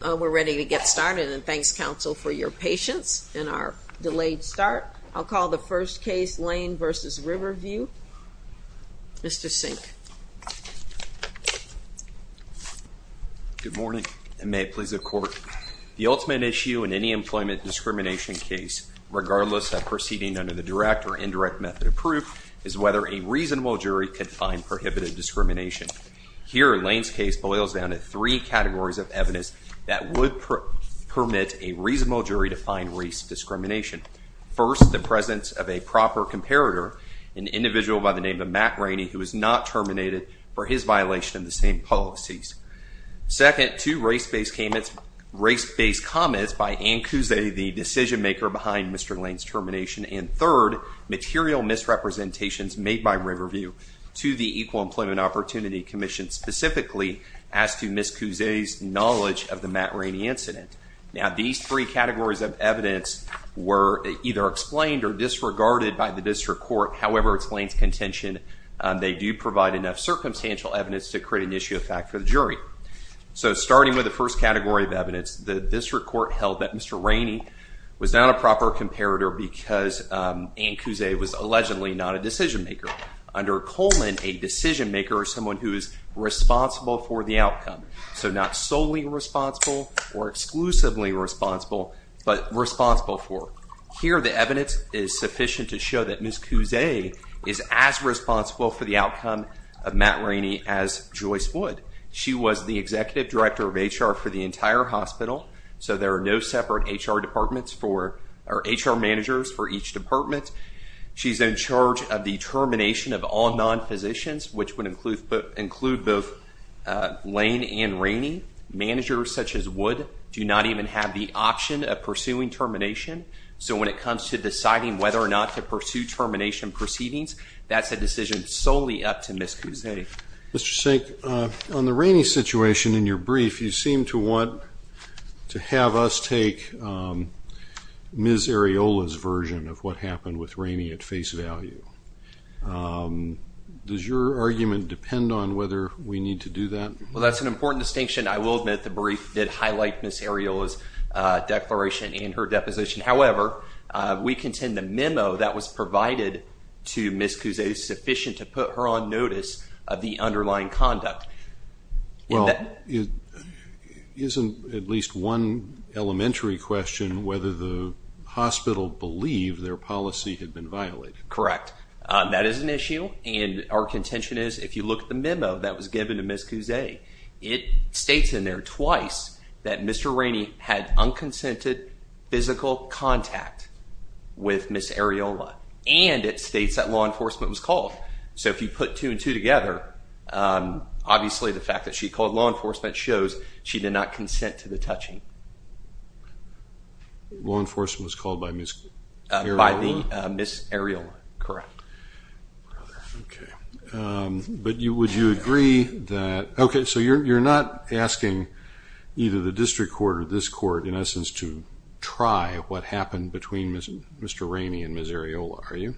We're ready to get started and thanks, counsel, for your patience in our delayed start. I'll call the first case, Lane v. Riverview. Mr. Sink. Good morning and may it please the court. The ultimate issue in any employment discrimination case, regardless of proceeding under the direct or indirect method of proof, is whether a reasonable jury can find that would permit a reasonable jury to find race discrimination. First, the presence of a proper comparator, an individual by the name of Matt Rainey, who was not terminated for his violation of the same policies. Second, two race-based comments by Ann Cuse, the decision-maker behind Mr. Lane's termination. And third, material misrepresentations made by Riverview to the Equal Employment Opportunity Commission specifically as to Ms. Cuse's knowledge of the Matt Rainey incident. Now, these three categories of evidence were either explained or disregarded by the district court. However, it's Lane's contention they do provide enough circumstantial evidence to create an issue of fact for the jury. So, starting with the first category of evidence, the district court held that Mr. Rainey was not a proper comparator because Ann Cuse was allegedly not a decision-maker. Under Coleman, a decision-maker is someone who is responsible for the outcome. So, not solely responsible or exclusively responsible, but responsible for. Here, the evidence is sufficient to show that Ms. Cuse is as responsible for the outcome of Matt Rainey as Joyce would. She was the executive director of HR for the entire hospital, so there are no separate HR managers for each department. She's in charge of the termination of all non-physicians, which would include both Lane and Rainey. Managers such as Wood do not even have the option of pursuing termination. So, when it comes to deciding whether or not to pursue termination proceedings, that's a decision solely up to Ms. Cuse. Mr. Sink, on the Rainey situation in your brief, you seem to want to have us take Ms. Areola's version of what happened with Rainey at face value. Does your argument depend on whether we need to do that? Well, that's an important distinction. I will admit the brief did highlight Ms. Areola's declaration and her deposition. However, we contend the memo that was provided to Ms. Cuse is sufficient to put her on notice of the underlying conduct. Isn't at least one elementary question whether the hospital believed their policy had been violated? Correct. That is an issue, and our contention is if you look at the memo that was given to Ms. Cuse, it states in there twice that Mr. Rainey had unconsented physical contact with Ms. Areola, and it states that law enforcement was called. So, if you put two and two together, obviously the fact that she called law enforcement shows she did not consent to the touching. Law enforcement was called by Ms. Areola? By Ms. Areola, correct. But would you agree that, okay, so you're not asking either the district court or this court, in essence, to try what happened between Mr. Rainey and Ms. Areola, are you?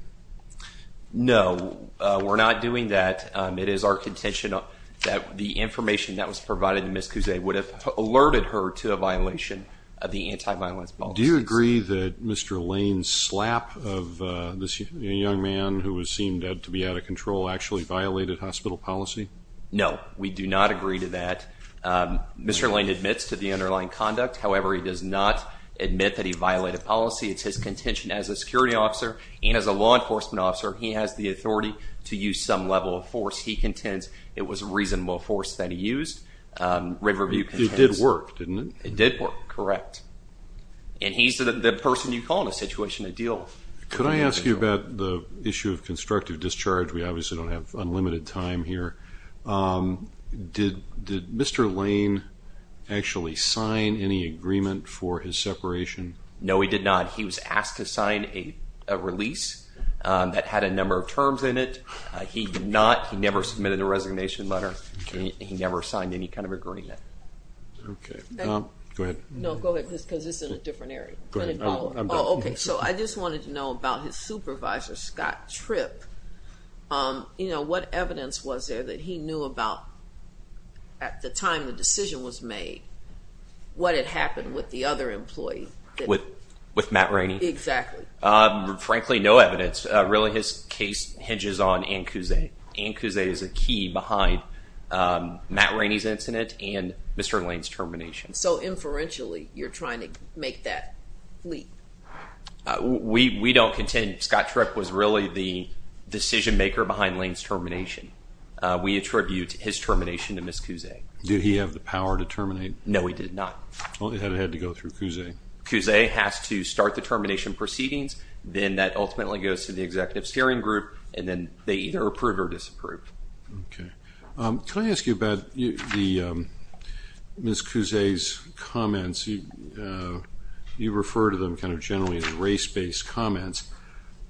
No, we're not doing that. It is our contention that the information that was provided to Ms. Cuse would have alerted her to a violation of the anti-violence policy. Do you agree that Mr. Lane's slap of this young man who seemed to be out of control actually violated the policy? No, we do not agree to that. Mr. Lane admits to the underlying conduct. However, he does not admit that he violated policy. It's his contention as a security officer and as a law enforcement officer, he has the authority to use some level of force. He contends it was a reasonable force that he used. It did work, didn't it? It did work, correct. And he's the person you call in a situation of deal. Could I ask you about the issue of constructive discharge? We obviously don't have unlimited time here. Did Mr. Lane actually sign any agreement for his separation? No, he did not. He was asked to sign a release that had a number of terms in it. He did not. He never submitted a resignation letter. He never signed any kind of agreement. Go ahead. I just wanted to know about his supervisor, Scott Tripp. What evidence was there that he knew about, at the time the decision was made, what had happened with the other employee? With Matt Rainey? Exactly. Frankly, no evidence. Really, his case hinges on and Cusay is a key behind Matt Rainey's incident and Mr. Lane's termination. So, inferentially, you're trying to make that leak? We don't contend. Scott Tripp was really the decision maker behind Lane's termination. We attribute his termination to Ms. Cusay. Did he have the power to terminate? No, he did not. Well, it had to go through Cusay. Cusay has to start the termination proceedings, then that ultimately goes to the executive steering group, and then they either approve or disapprove. Can I ask you about Ms. Cusay's comments? You refer to them kind of generally as race-based comments.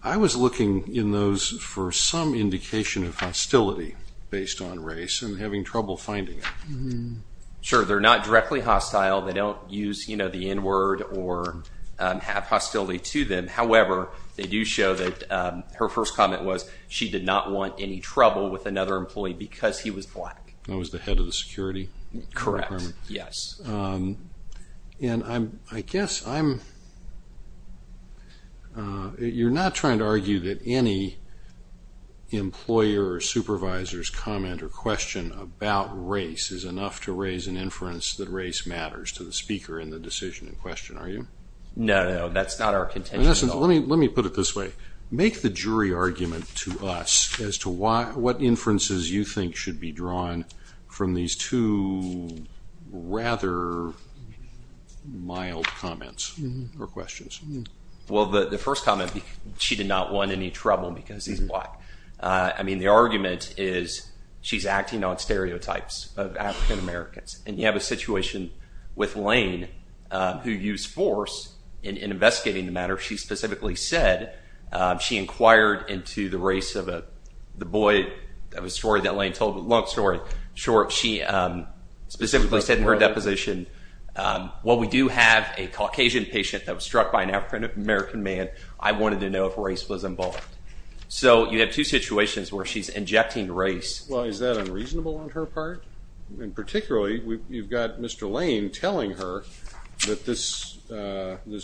I was looking in those for some indication of hostility based on race and having trouble finding it. Sure, they're not to them. However, they do show that her first comment was she did not want any trouble with another employee because he was black. That was the head of the security department? Correct, yes. And I guess I'm you're not trying to argue that any employer or supervisor's comment or question about race is enough to raise an inference that race matters to the speaker in the decision in question, are you? No, that's not our contention at all. Let me put it this way. Make the jury argument to us as to what inferences you think should be drawn from these two rather mild comments or questions. Well, the first comment, she did not want any trouble because he's black. I mean, the argument is she's acting on stereotypes of African-Americans. And you have a situation with Lane who used force in investigating the matter. She specifically said, she inquired into the race of the boy. That was a story that Lane told, a long story. Short, she specifically said in her deposition, while we do have a Caucasian patient that was struck by an African-American man, I wanted to know if race was involved. So you have two situations where she's injecting race. Well, is that unreasonable on her part? And particularly, you've got Mr. Lane telling her that this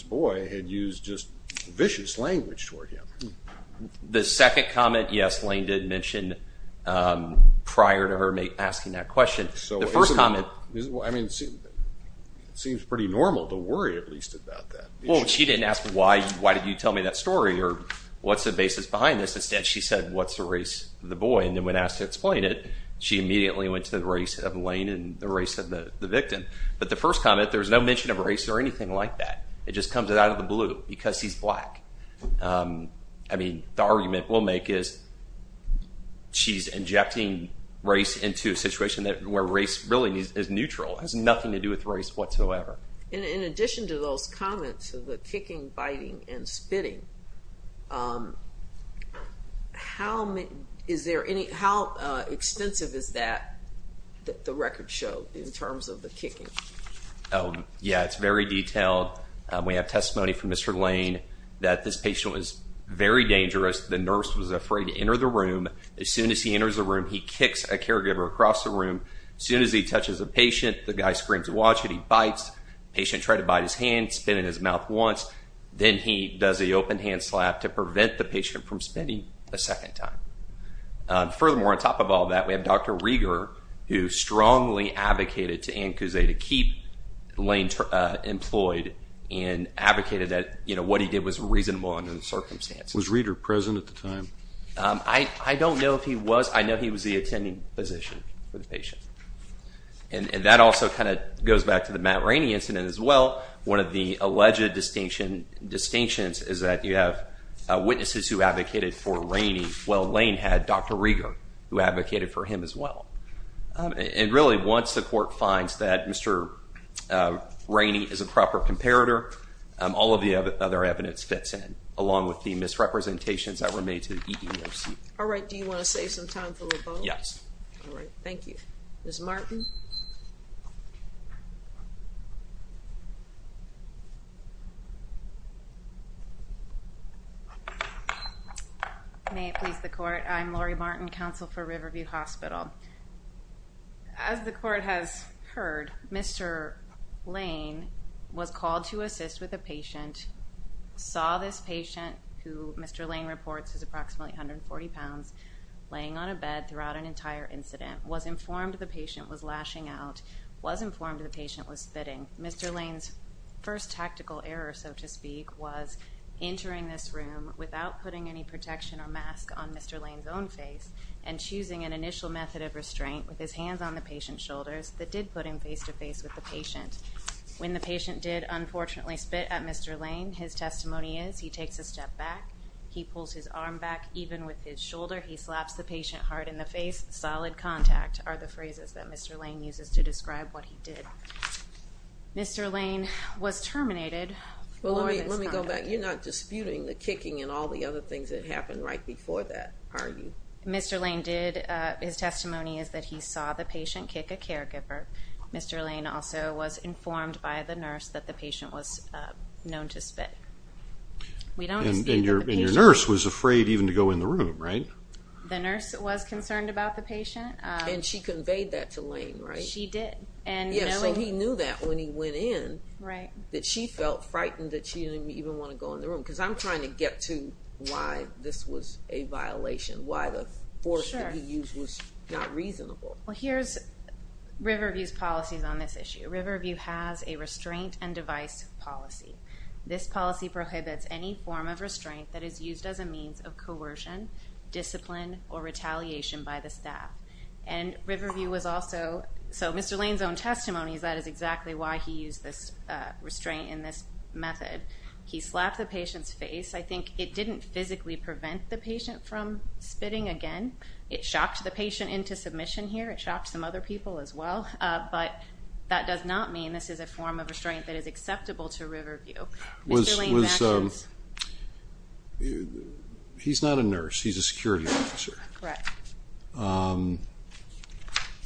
boy had used just vicious language toward him. The second comment, yes, Lane did mention prior to her asking that question. The first comment. Well, I mean, it seems pretty normal to worry at least about that. Well, she didn't ask why did you tell me that story or what's the basis behind this. Instead, she said, what's the race of the boy? And then when asked to explain it, she immediately went to the race of Lane and the race of the victim. But the first comment, there's no mention of race or anything like that. It just comes out of the blue because he's black. I mean, the argument we'll make is she's injecting race into a situation where race really is neutral. It has nothing to do with race whatsoever. In addition to those comments of the kicking, biting and spitting, how extensive is that that the records show in terms of the kicking? Yeah, it's very detailed. We have testimony from Mr. Lane that this patient was very dangerous. The nurse was afraid to enter the room. As soon as he enters the room, he kicks a caregiver across the room. As soon as he touches a patient, the guy screams to watch it. He bites. Patient tried to bite his hand, spit in his mouth once. Then he does the open hand slap to prevent the patient from spitting a second time. Furthermore, on top of all that, we have Dr. Rieger who strongly advocated to keep Lane employed and advocated that what he did was reasonable under the circumstances. Was Rieger present at the time? I don't know if he was. I know he was the attending physician for the patient. That also goes back to the Matt Rainey incident as well. One of the alleged distinctions is that you have witnesses who advocated for Rainey while Lane had Dr. Rainey as well. Really, once the court finds that Mr. Rainey is a proper comparator, all of the other evidence fits in along with the misrepresentations that were made to the EDEOC. Alright, do you want to save some time for the vote? Yes. Alright, thank you. Ms. Martin? May it please the court, I'm Lori Martin, counsel for Riverview Hospital. As the court has heard, Mr. Lane was called to assist with a patient, saw this patient who Mr. Lane reports is approximately 140 pounds, laying on a bed throughout an entire incident, was informed the patient was lashing out, was informed the patient was spitting. Mr. Lane's first tactical error, so to speak, was entering this room without putting any protection or mask on Mr. Lane's own face and choosing an initial method of restraint with his hands on the patient's shoulders that did put him face to face with the patient. When the patient did unfortunately spit at Mr. Lane, his testimony is he takes a step back, he pulls his arm back even with his shoulder, he slaps the patient hard in the face, solid contact are the phrases that Mr. Lane uses to describe what he did. Mr. Lane was terminated for this conduct. Well let me go back, you're not disputing the kicking and all the other things that happened right before that, are you? Mr. Lane did, his testimony is that he saw the patient kick a caregiver. Mr. Lane also was and your nurse was afraid even to go in the room, right? The nurse was concerned about the patient. And she conveyed that to Lane, right? She did. So he knew that when he went in, that she felt frightened that she didn't even want to go in the room, because I'm trying to get to why this was a violation, why the force that he used was not reasonable. Well here's Riverview's policies on this issue. Riverview has a restraint and device policy. This policy prohibits any form of restraint that is used as a means of coercion, discipline, or retaliation by the staff. And Riverview was also, so Mr. Lane's own testimony is that is exactly why he used this restraint in this method. He slapped the patient's face. I think it didn't physically prevent the patient from spitting again. It shocked the patient into submission here. It shocked some other people as well. But that does not mean this is a form of restraint that is acceptable to Riverview. Mr. Lane's actions... He's not a nurse. He's a security officer.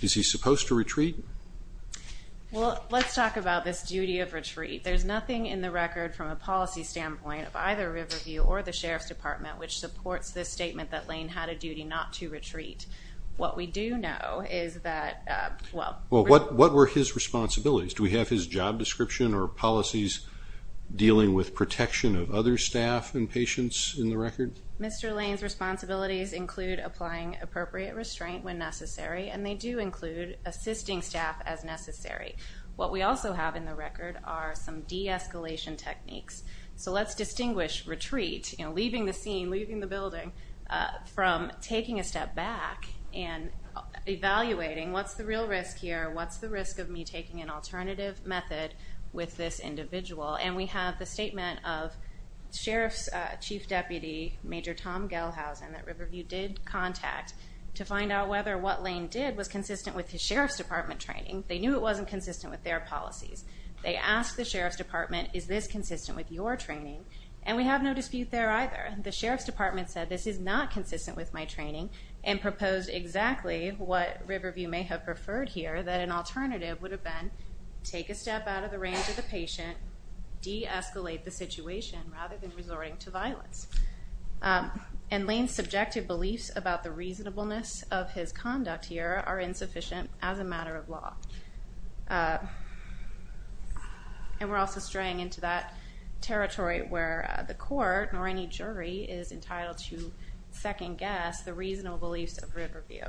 Is he supposed to retreat? Well let's talk about this duty of retreat. There's nothing in the record from a policy standpoint of either this statement that Lane had a duty not to retreat. What we do know is that... What were his responsibilities? Do we have his job description or policies dealing with protection of other staff and patients in the record? Mr. Lane's responsibilities include applying appropriate restraint when necessary, and they do include assisting staff as necessary. What we also have in the record are some de-escalation techniques. So let's distinguish retreat, leaving the scene, leaving the building, from taking a step back and evaluating what's the real risk here? What's the risk of me taking an alternative method with this individual? And we have the statement of Sheriff's Chief Deputy Major Tom Gelhausen that Riverview did contact to find out whether what Lane did was consistent with his Sheriff's Department training. They knew it wasn't consistent with their policies. They asked the Sheriff's Department, is this consistent with your training? And we have no dispute there either. The Sheriff's Department said this is not consistent with my training and proposed exactly what Riverview may have preferred here, that an alternative would have been take a step out of the range of the patient, de-escalate the situation rather than resorting to violence. And Lane's subjective beliefs about the reasonableness of his conduct here are insufficient as a matter of law. And we're also straying into that territory where the court, nor any jury, is entitled to second guess the reasonable beliefs of Riverview.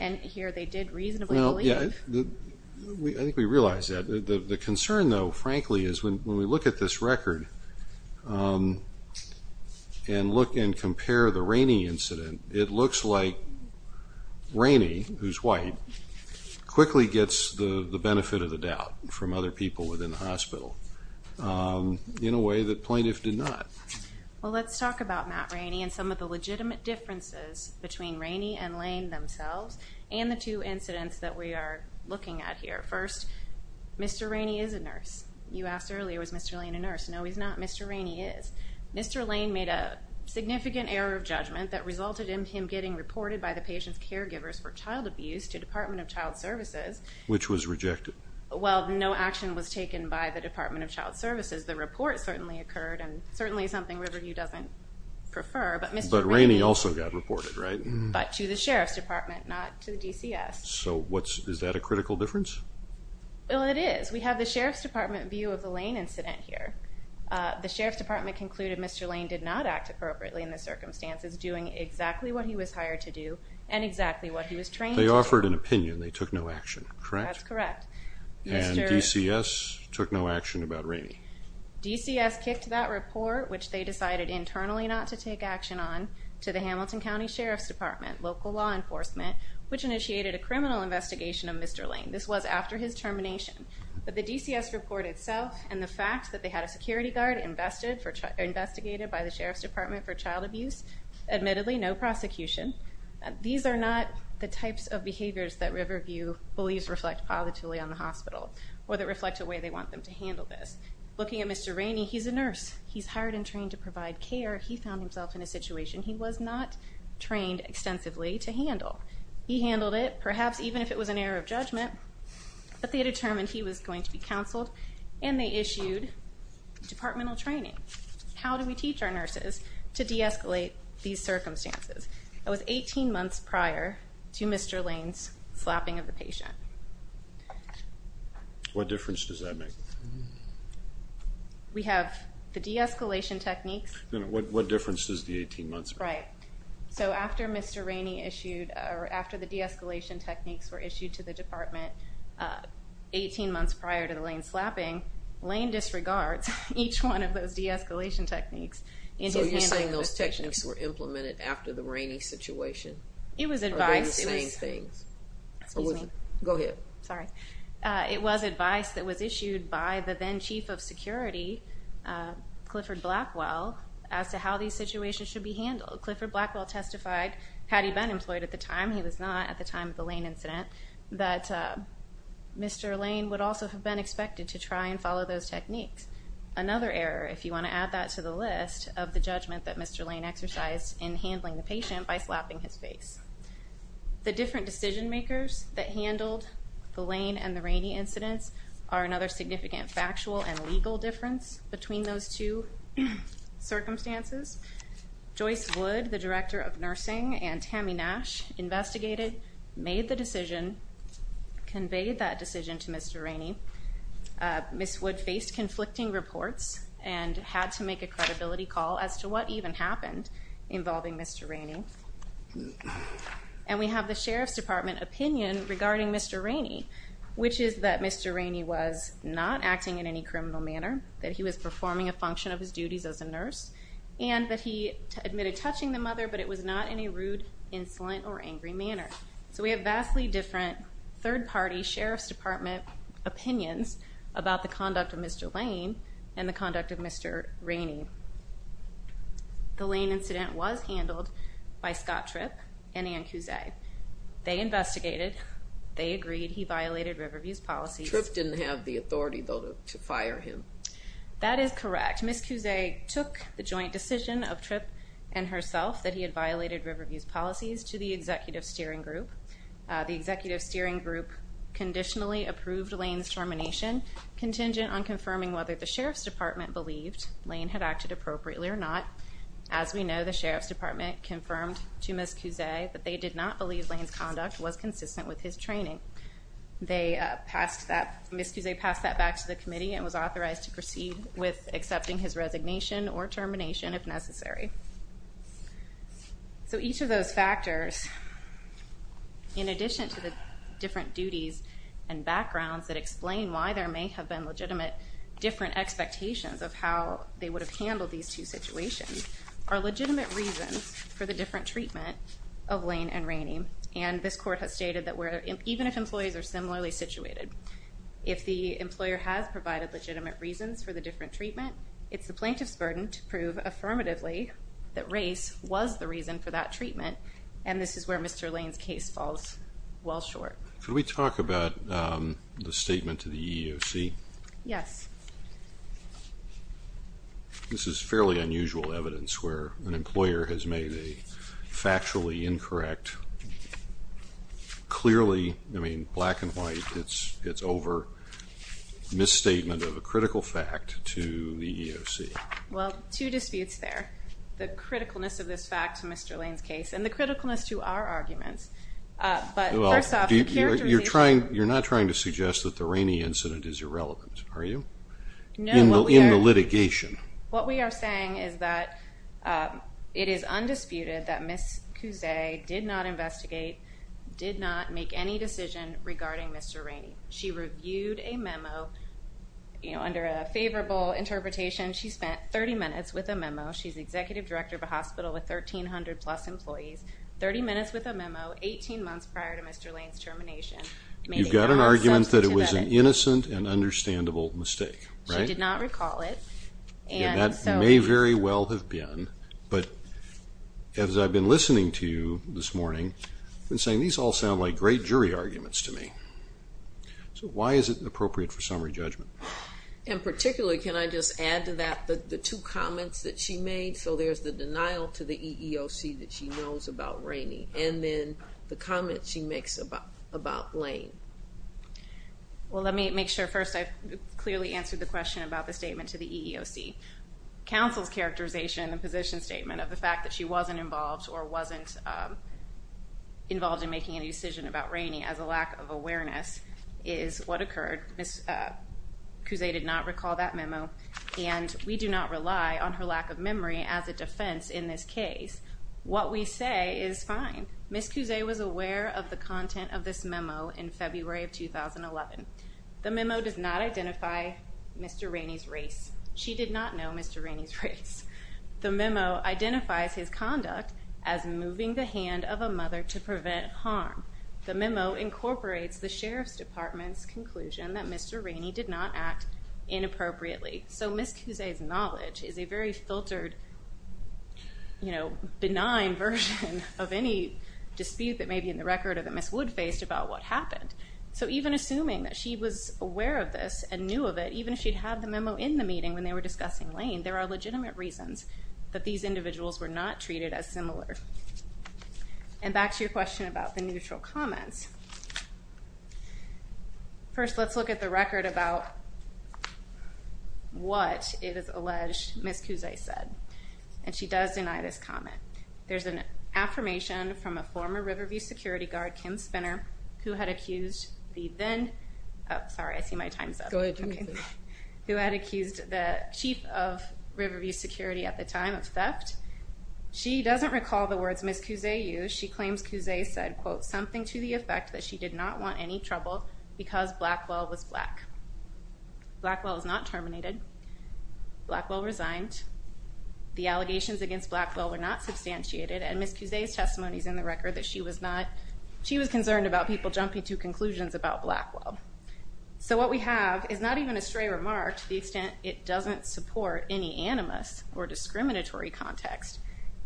And here they did reasonably believe. I think we realize that. The concern though, frankly, is when we look at this record and look and compare the Rainey incident, it looks like Rainey, who's white, quickly gets the benefit of the doubt from other people within the hospital in a way that plaintiffs did not. Well let's talk about Matt Rainey and some of the legitimate differences between Rainey and Lane themselves and the two incidents that we are looking at here. First, Mr. Rainey is a nurse. You asked earlier, is Mr. Lane a nurse? No, he's not. Mr. Rainey is. Mr. Lane made a significant error of judgment that resulted in him getting reported by the patient's caregivers for child abuse to the Department of Child Services. Which was rejected. Well, no action was taken by the Department of Child Services. The report certainly occurred and certainly something Riverview doesn't prefer. But Rainey also got reported, right? But to the Sheriff's Department, not to DCS. So is that a critical difference? Well, it is. We have the Sheriff's Department view of the Lane incident here. The Sheriff's Department concluded Mr. Lane did not act appropriately in the circumstances, doing exactly what he was hired to do and exactly what he was trained to do. They offered an opinion. They took no action, correct? That's correct. And DCS took no action about Rainey. DCS kicked that report, which they decided internally not to take action on, to the Hamilton County Sheriff's Department, local law enforcement, which initiated a criminal investigation of Mr. Lane. This was after his termination. But the DCS report itself and the fact that they had a security guard investigated by the Sheriff's Department for child abuse, admittedly no prosecution. These are not the types of behaviors that Riverview believes reflect positively on the hospital. Or that reflect a way they want them to handle this. Looking at Mr. Rainey, he's a nurse. He's hired and trained to provide care. He found himself in a situation he was not trained extensively to handle. He handled it, perhaps even if it was an error of judgment. But they determined he was going to be counseled and they issued departmental training. How do we teach our nurses to de-escalate these circumstances? That was 18 months prior to Mr. Lane's slapping of the patient. What difference does that make? We have the de-escalation techniques. What difference does the 18 months make? Right. So after Mr. Rainey issued, or after the de-escalation techniques were issued to the department 18 months prior to the Lane slapping, Lane disregards each one of those de-escalation techniques in his handling of the patient. So you're saying those techniques were implemented after the Rainey situation? It was advice. Go ahead. Sorry. It was advice that was issued by the then Chief of Security, Clifford Blackwell, as to how these situations should be handled. Clifford Blackwell testified, Patty Ben employed at the time, he was not at the time of the Lane incident, that Mr. Lane would also have been expected to try and follow those techniques. Another error, if you want to add that to the list, of the judgment that Mr. Lane exercised in handling the patient by slapping his face. The different decision makers that handled the Lane and the Rainey incidents are another significant factual and legal difference between those two circumstances. Joyce Wood, the Director of Nursing, and Tammy Nash investigated, made the decision, conveyed that decision to Mr. Rainey. Ms. Wood faced conflicting reports and had to make a credibility call as to what even happened involving Mr. Rainey. And we have the Sheriff's Department opinion regarding Mr. Rainey, which is that Mr. Rainey was not acting in any criminal manner, that he was performing a function of his duties as a nurse, and that he admitted touching the mother, but it was not in a rude, insolent, or angry manner. So we have vastly different third-party Sheriff's Department opinions about the conduct of Mr. Lane and the conduct of Mr. Rainey. The Lane incident was handled by Scott Tripp and Ann Cusay. They investigated, they agreed he violated Riverview's policies. Tripp didn't have the joint decision of Tripp and herself that he had violated Riverview's policies to the Executive Steering Group. The Executive Steering Group conditionally approved Lane's termination, contingent on confirming whether the Sheriff's Department believed Lane had acted appropriately or not. As we know, the Sheriff's Department confirmed to Ms. Cusay that they did not believe Lane's conduct was consistent with his training. Ms. Cusay passed that back to the committee and was authorized to proceed with accepting his resignation or termination if necessary. So each of those factors, in addition to the different duties and backgrounds that explain why there may have been legitimate different expectations of how they would have handled these two situations, are legitimate reasons for the different treatment of Lane and Rainey. And this court has stated that even if employees are similarly situated, if the employer has provided legitimate reasons for the different treatment, it's the plaintiff's burden to prove affirmatively that race was the reason for that treatment, and this is where Mr. Lane's case falls well short. Can we talk about the statement to the EEOC? Yes. This is fairly unusual evidence where an employer has made a factually incorrect, clearly, I mean, black and white, it's over misstatement of a critical fact to the EEOC. Well, two disputes there. The criticalness of this fact to Mr. Lane's case and the criticalness to our arguments, but first off, the character... You're not trying to suggest that the Rainey incident is irrelevant, are you, in the litigation? No, what we are saying is that it is undisputed that Ms. Cusay did not investigate, did not make any decision regarding Mr. Rainey. She reviewed a memo, you know, under a favorable interpretation, she spent 30 minutes with a memo, she's executive director of a hospital with 1,300 plus employees, 30 minutes with a memo, 18 months prior to Mr. Lane's termination. You've got an argument that it was an innocent and understandable mistake, right? She did not recall it. And that may very well have been, but as I've been listening to you this morning, I've been saying these all sound like great jury arguments to me. So why is it appropriate for summary judgment? And particularly, can I just add to that the two comments that she made? So there's the mix about Lane. Well, let me make sure first I've clearly answered the question about the statement to the EEOC. Counsel's characterization in the position statement of the fact that she wasn't involved or wasn't involved in making any decision about Rainey as a lack of awareness is what occurred. Ms. Cusay did not recall that memo, and we do not rely on her lack of memory as a defense in this case. What we say is fine. Ms. Cusay was aware of the content of this memo in February of 2011. The memo does not identify Mr. Rainey's race. She did not know Mr. Rainey's race. The memo identifies his conduct as moving the hand of a mother to prevent harm. The memo incorporates the Sheriff's Department's conclusion that Mr. Rainey did not act inappropriately. So Ms. Cusay's knowledge is a very filtered benign version of any dispute that may be in the record that Ms. Wood faced about what happened. So even assuming that she was aware of this and knew of it, even if she had the memo in the meeting when they were discussing Lane, there are legitimate reasons that these individuals were not treated as similar. And back to your question about the neutral comments. First, let's look at the record about what it is alleged Ms. Cusay said. And she does deny this comment. There's an affirmation from a former Riverview security guard, Kim Spinner, who had accused the then, sorry I see my time's up, who had accused the chief of Riverview security at the time of theft. She doesn't recall the words Ms. Cusay used. She claims Cusay said, quote, something to the effect that she did not want any trouble because Blackwell was black. Blackwell was not terminated. Blackwell resigned. The allegations against Blackwell were not substantiated and Ms. Cusay's testimony is in the record that she was concerned about people jumping to conclusions about Blackwell. So what we have is not even a remark to the extent it doesn't support any animus or discriminatory context.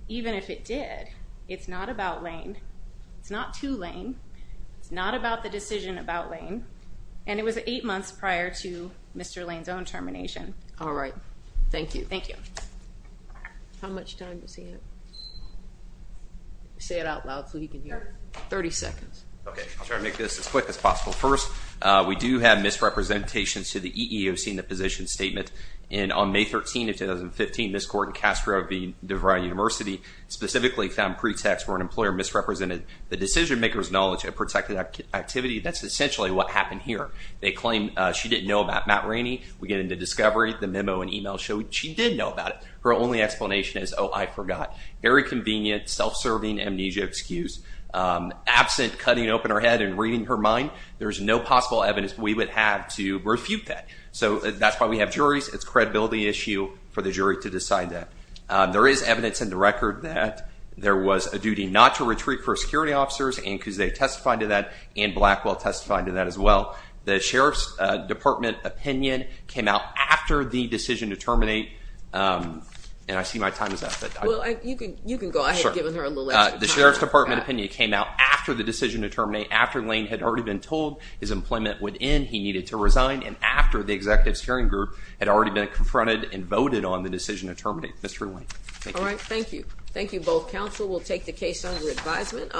Even if it did, it's not about Lane. It's not to Lane. It's not about the decision about Lane. And it was eight months prior to Mr. Lane's own termination. All right. Thank you. Thank you. How much time does he have? Say it out loud so he can hear. Thirty seconds. OK. I'll try to make this as quick as possible. First, we do have misrepresentations to the EEOC in the position statement. And on May 13 of 2015, Ms. Gordon Castro of the DeVry University specifically found pretext where an employer misrepresented the decision maker's knowledge of protected activity. That's essentially what happened here. They claim she didn't know about Matt Rainey. We get into discovery. The memo and email showed she did know about it. Her only explanation is, oh, I forgot. Very convenient, self-serving amnesia excuse. Absent cutting open her head and reading her mind, there's no possible evidence we would have to refute that. So that's why we have juries. It's a credibility issue for the jury to decide that. There is evidence in the record that there was a duty not to retreat for security officers and because they testified to that and Blackwell testified to that as well. The Sheriff's Department opinion came out after the decision to terminate. And I see my time is up. You can go ahead. The Sheriff's Department opinion came out after the decision to terminate. After Lane had already been told his employment would end, he needed to resign. And after the executives hearing group had already been confronted and voted on the decision to terminate. Mr. Lane. All right. Thank you. Thank you both. Counsel will take the case under advisement.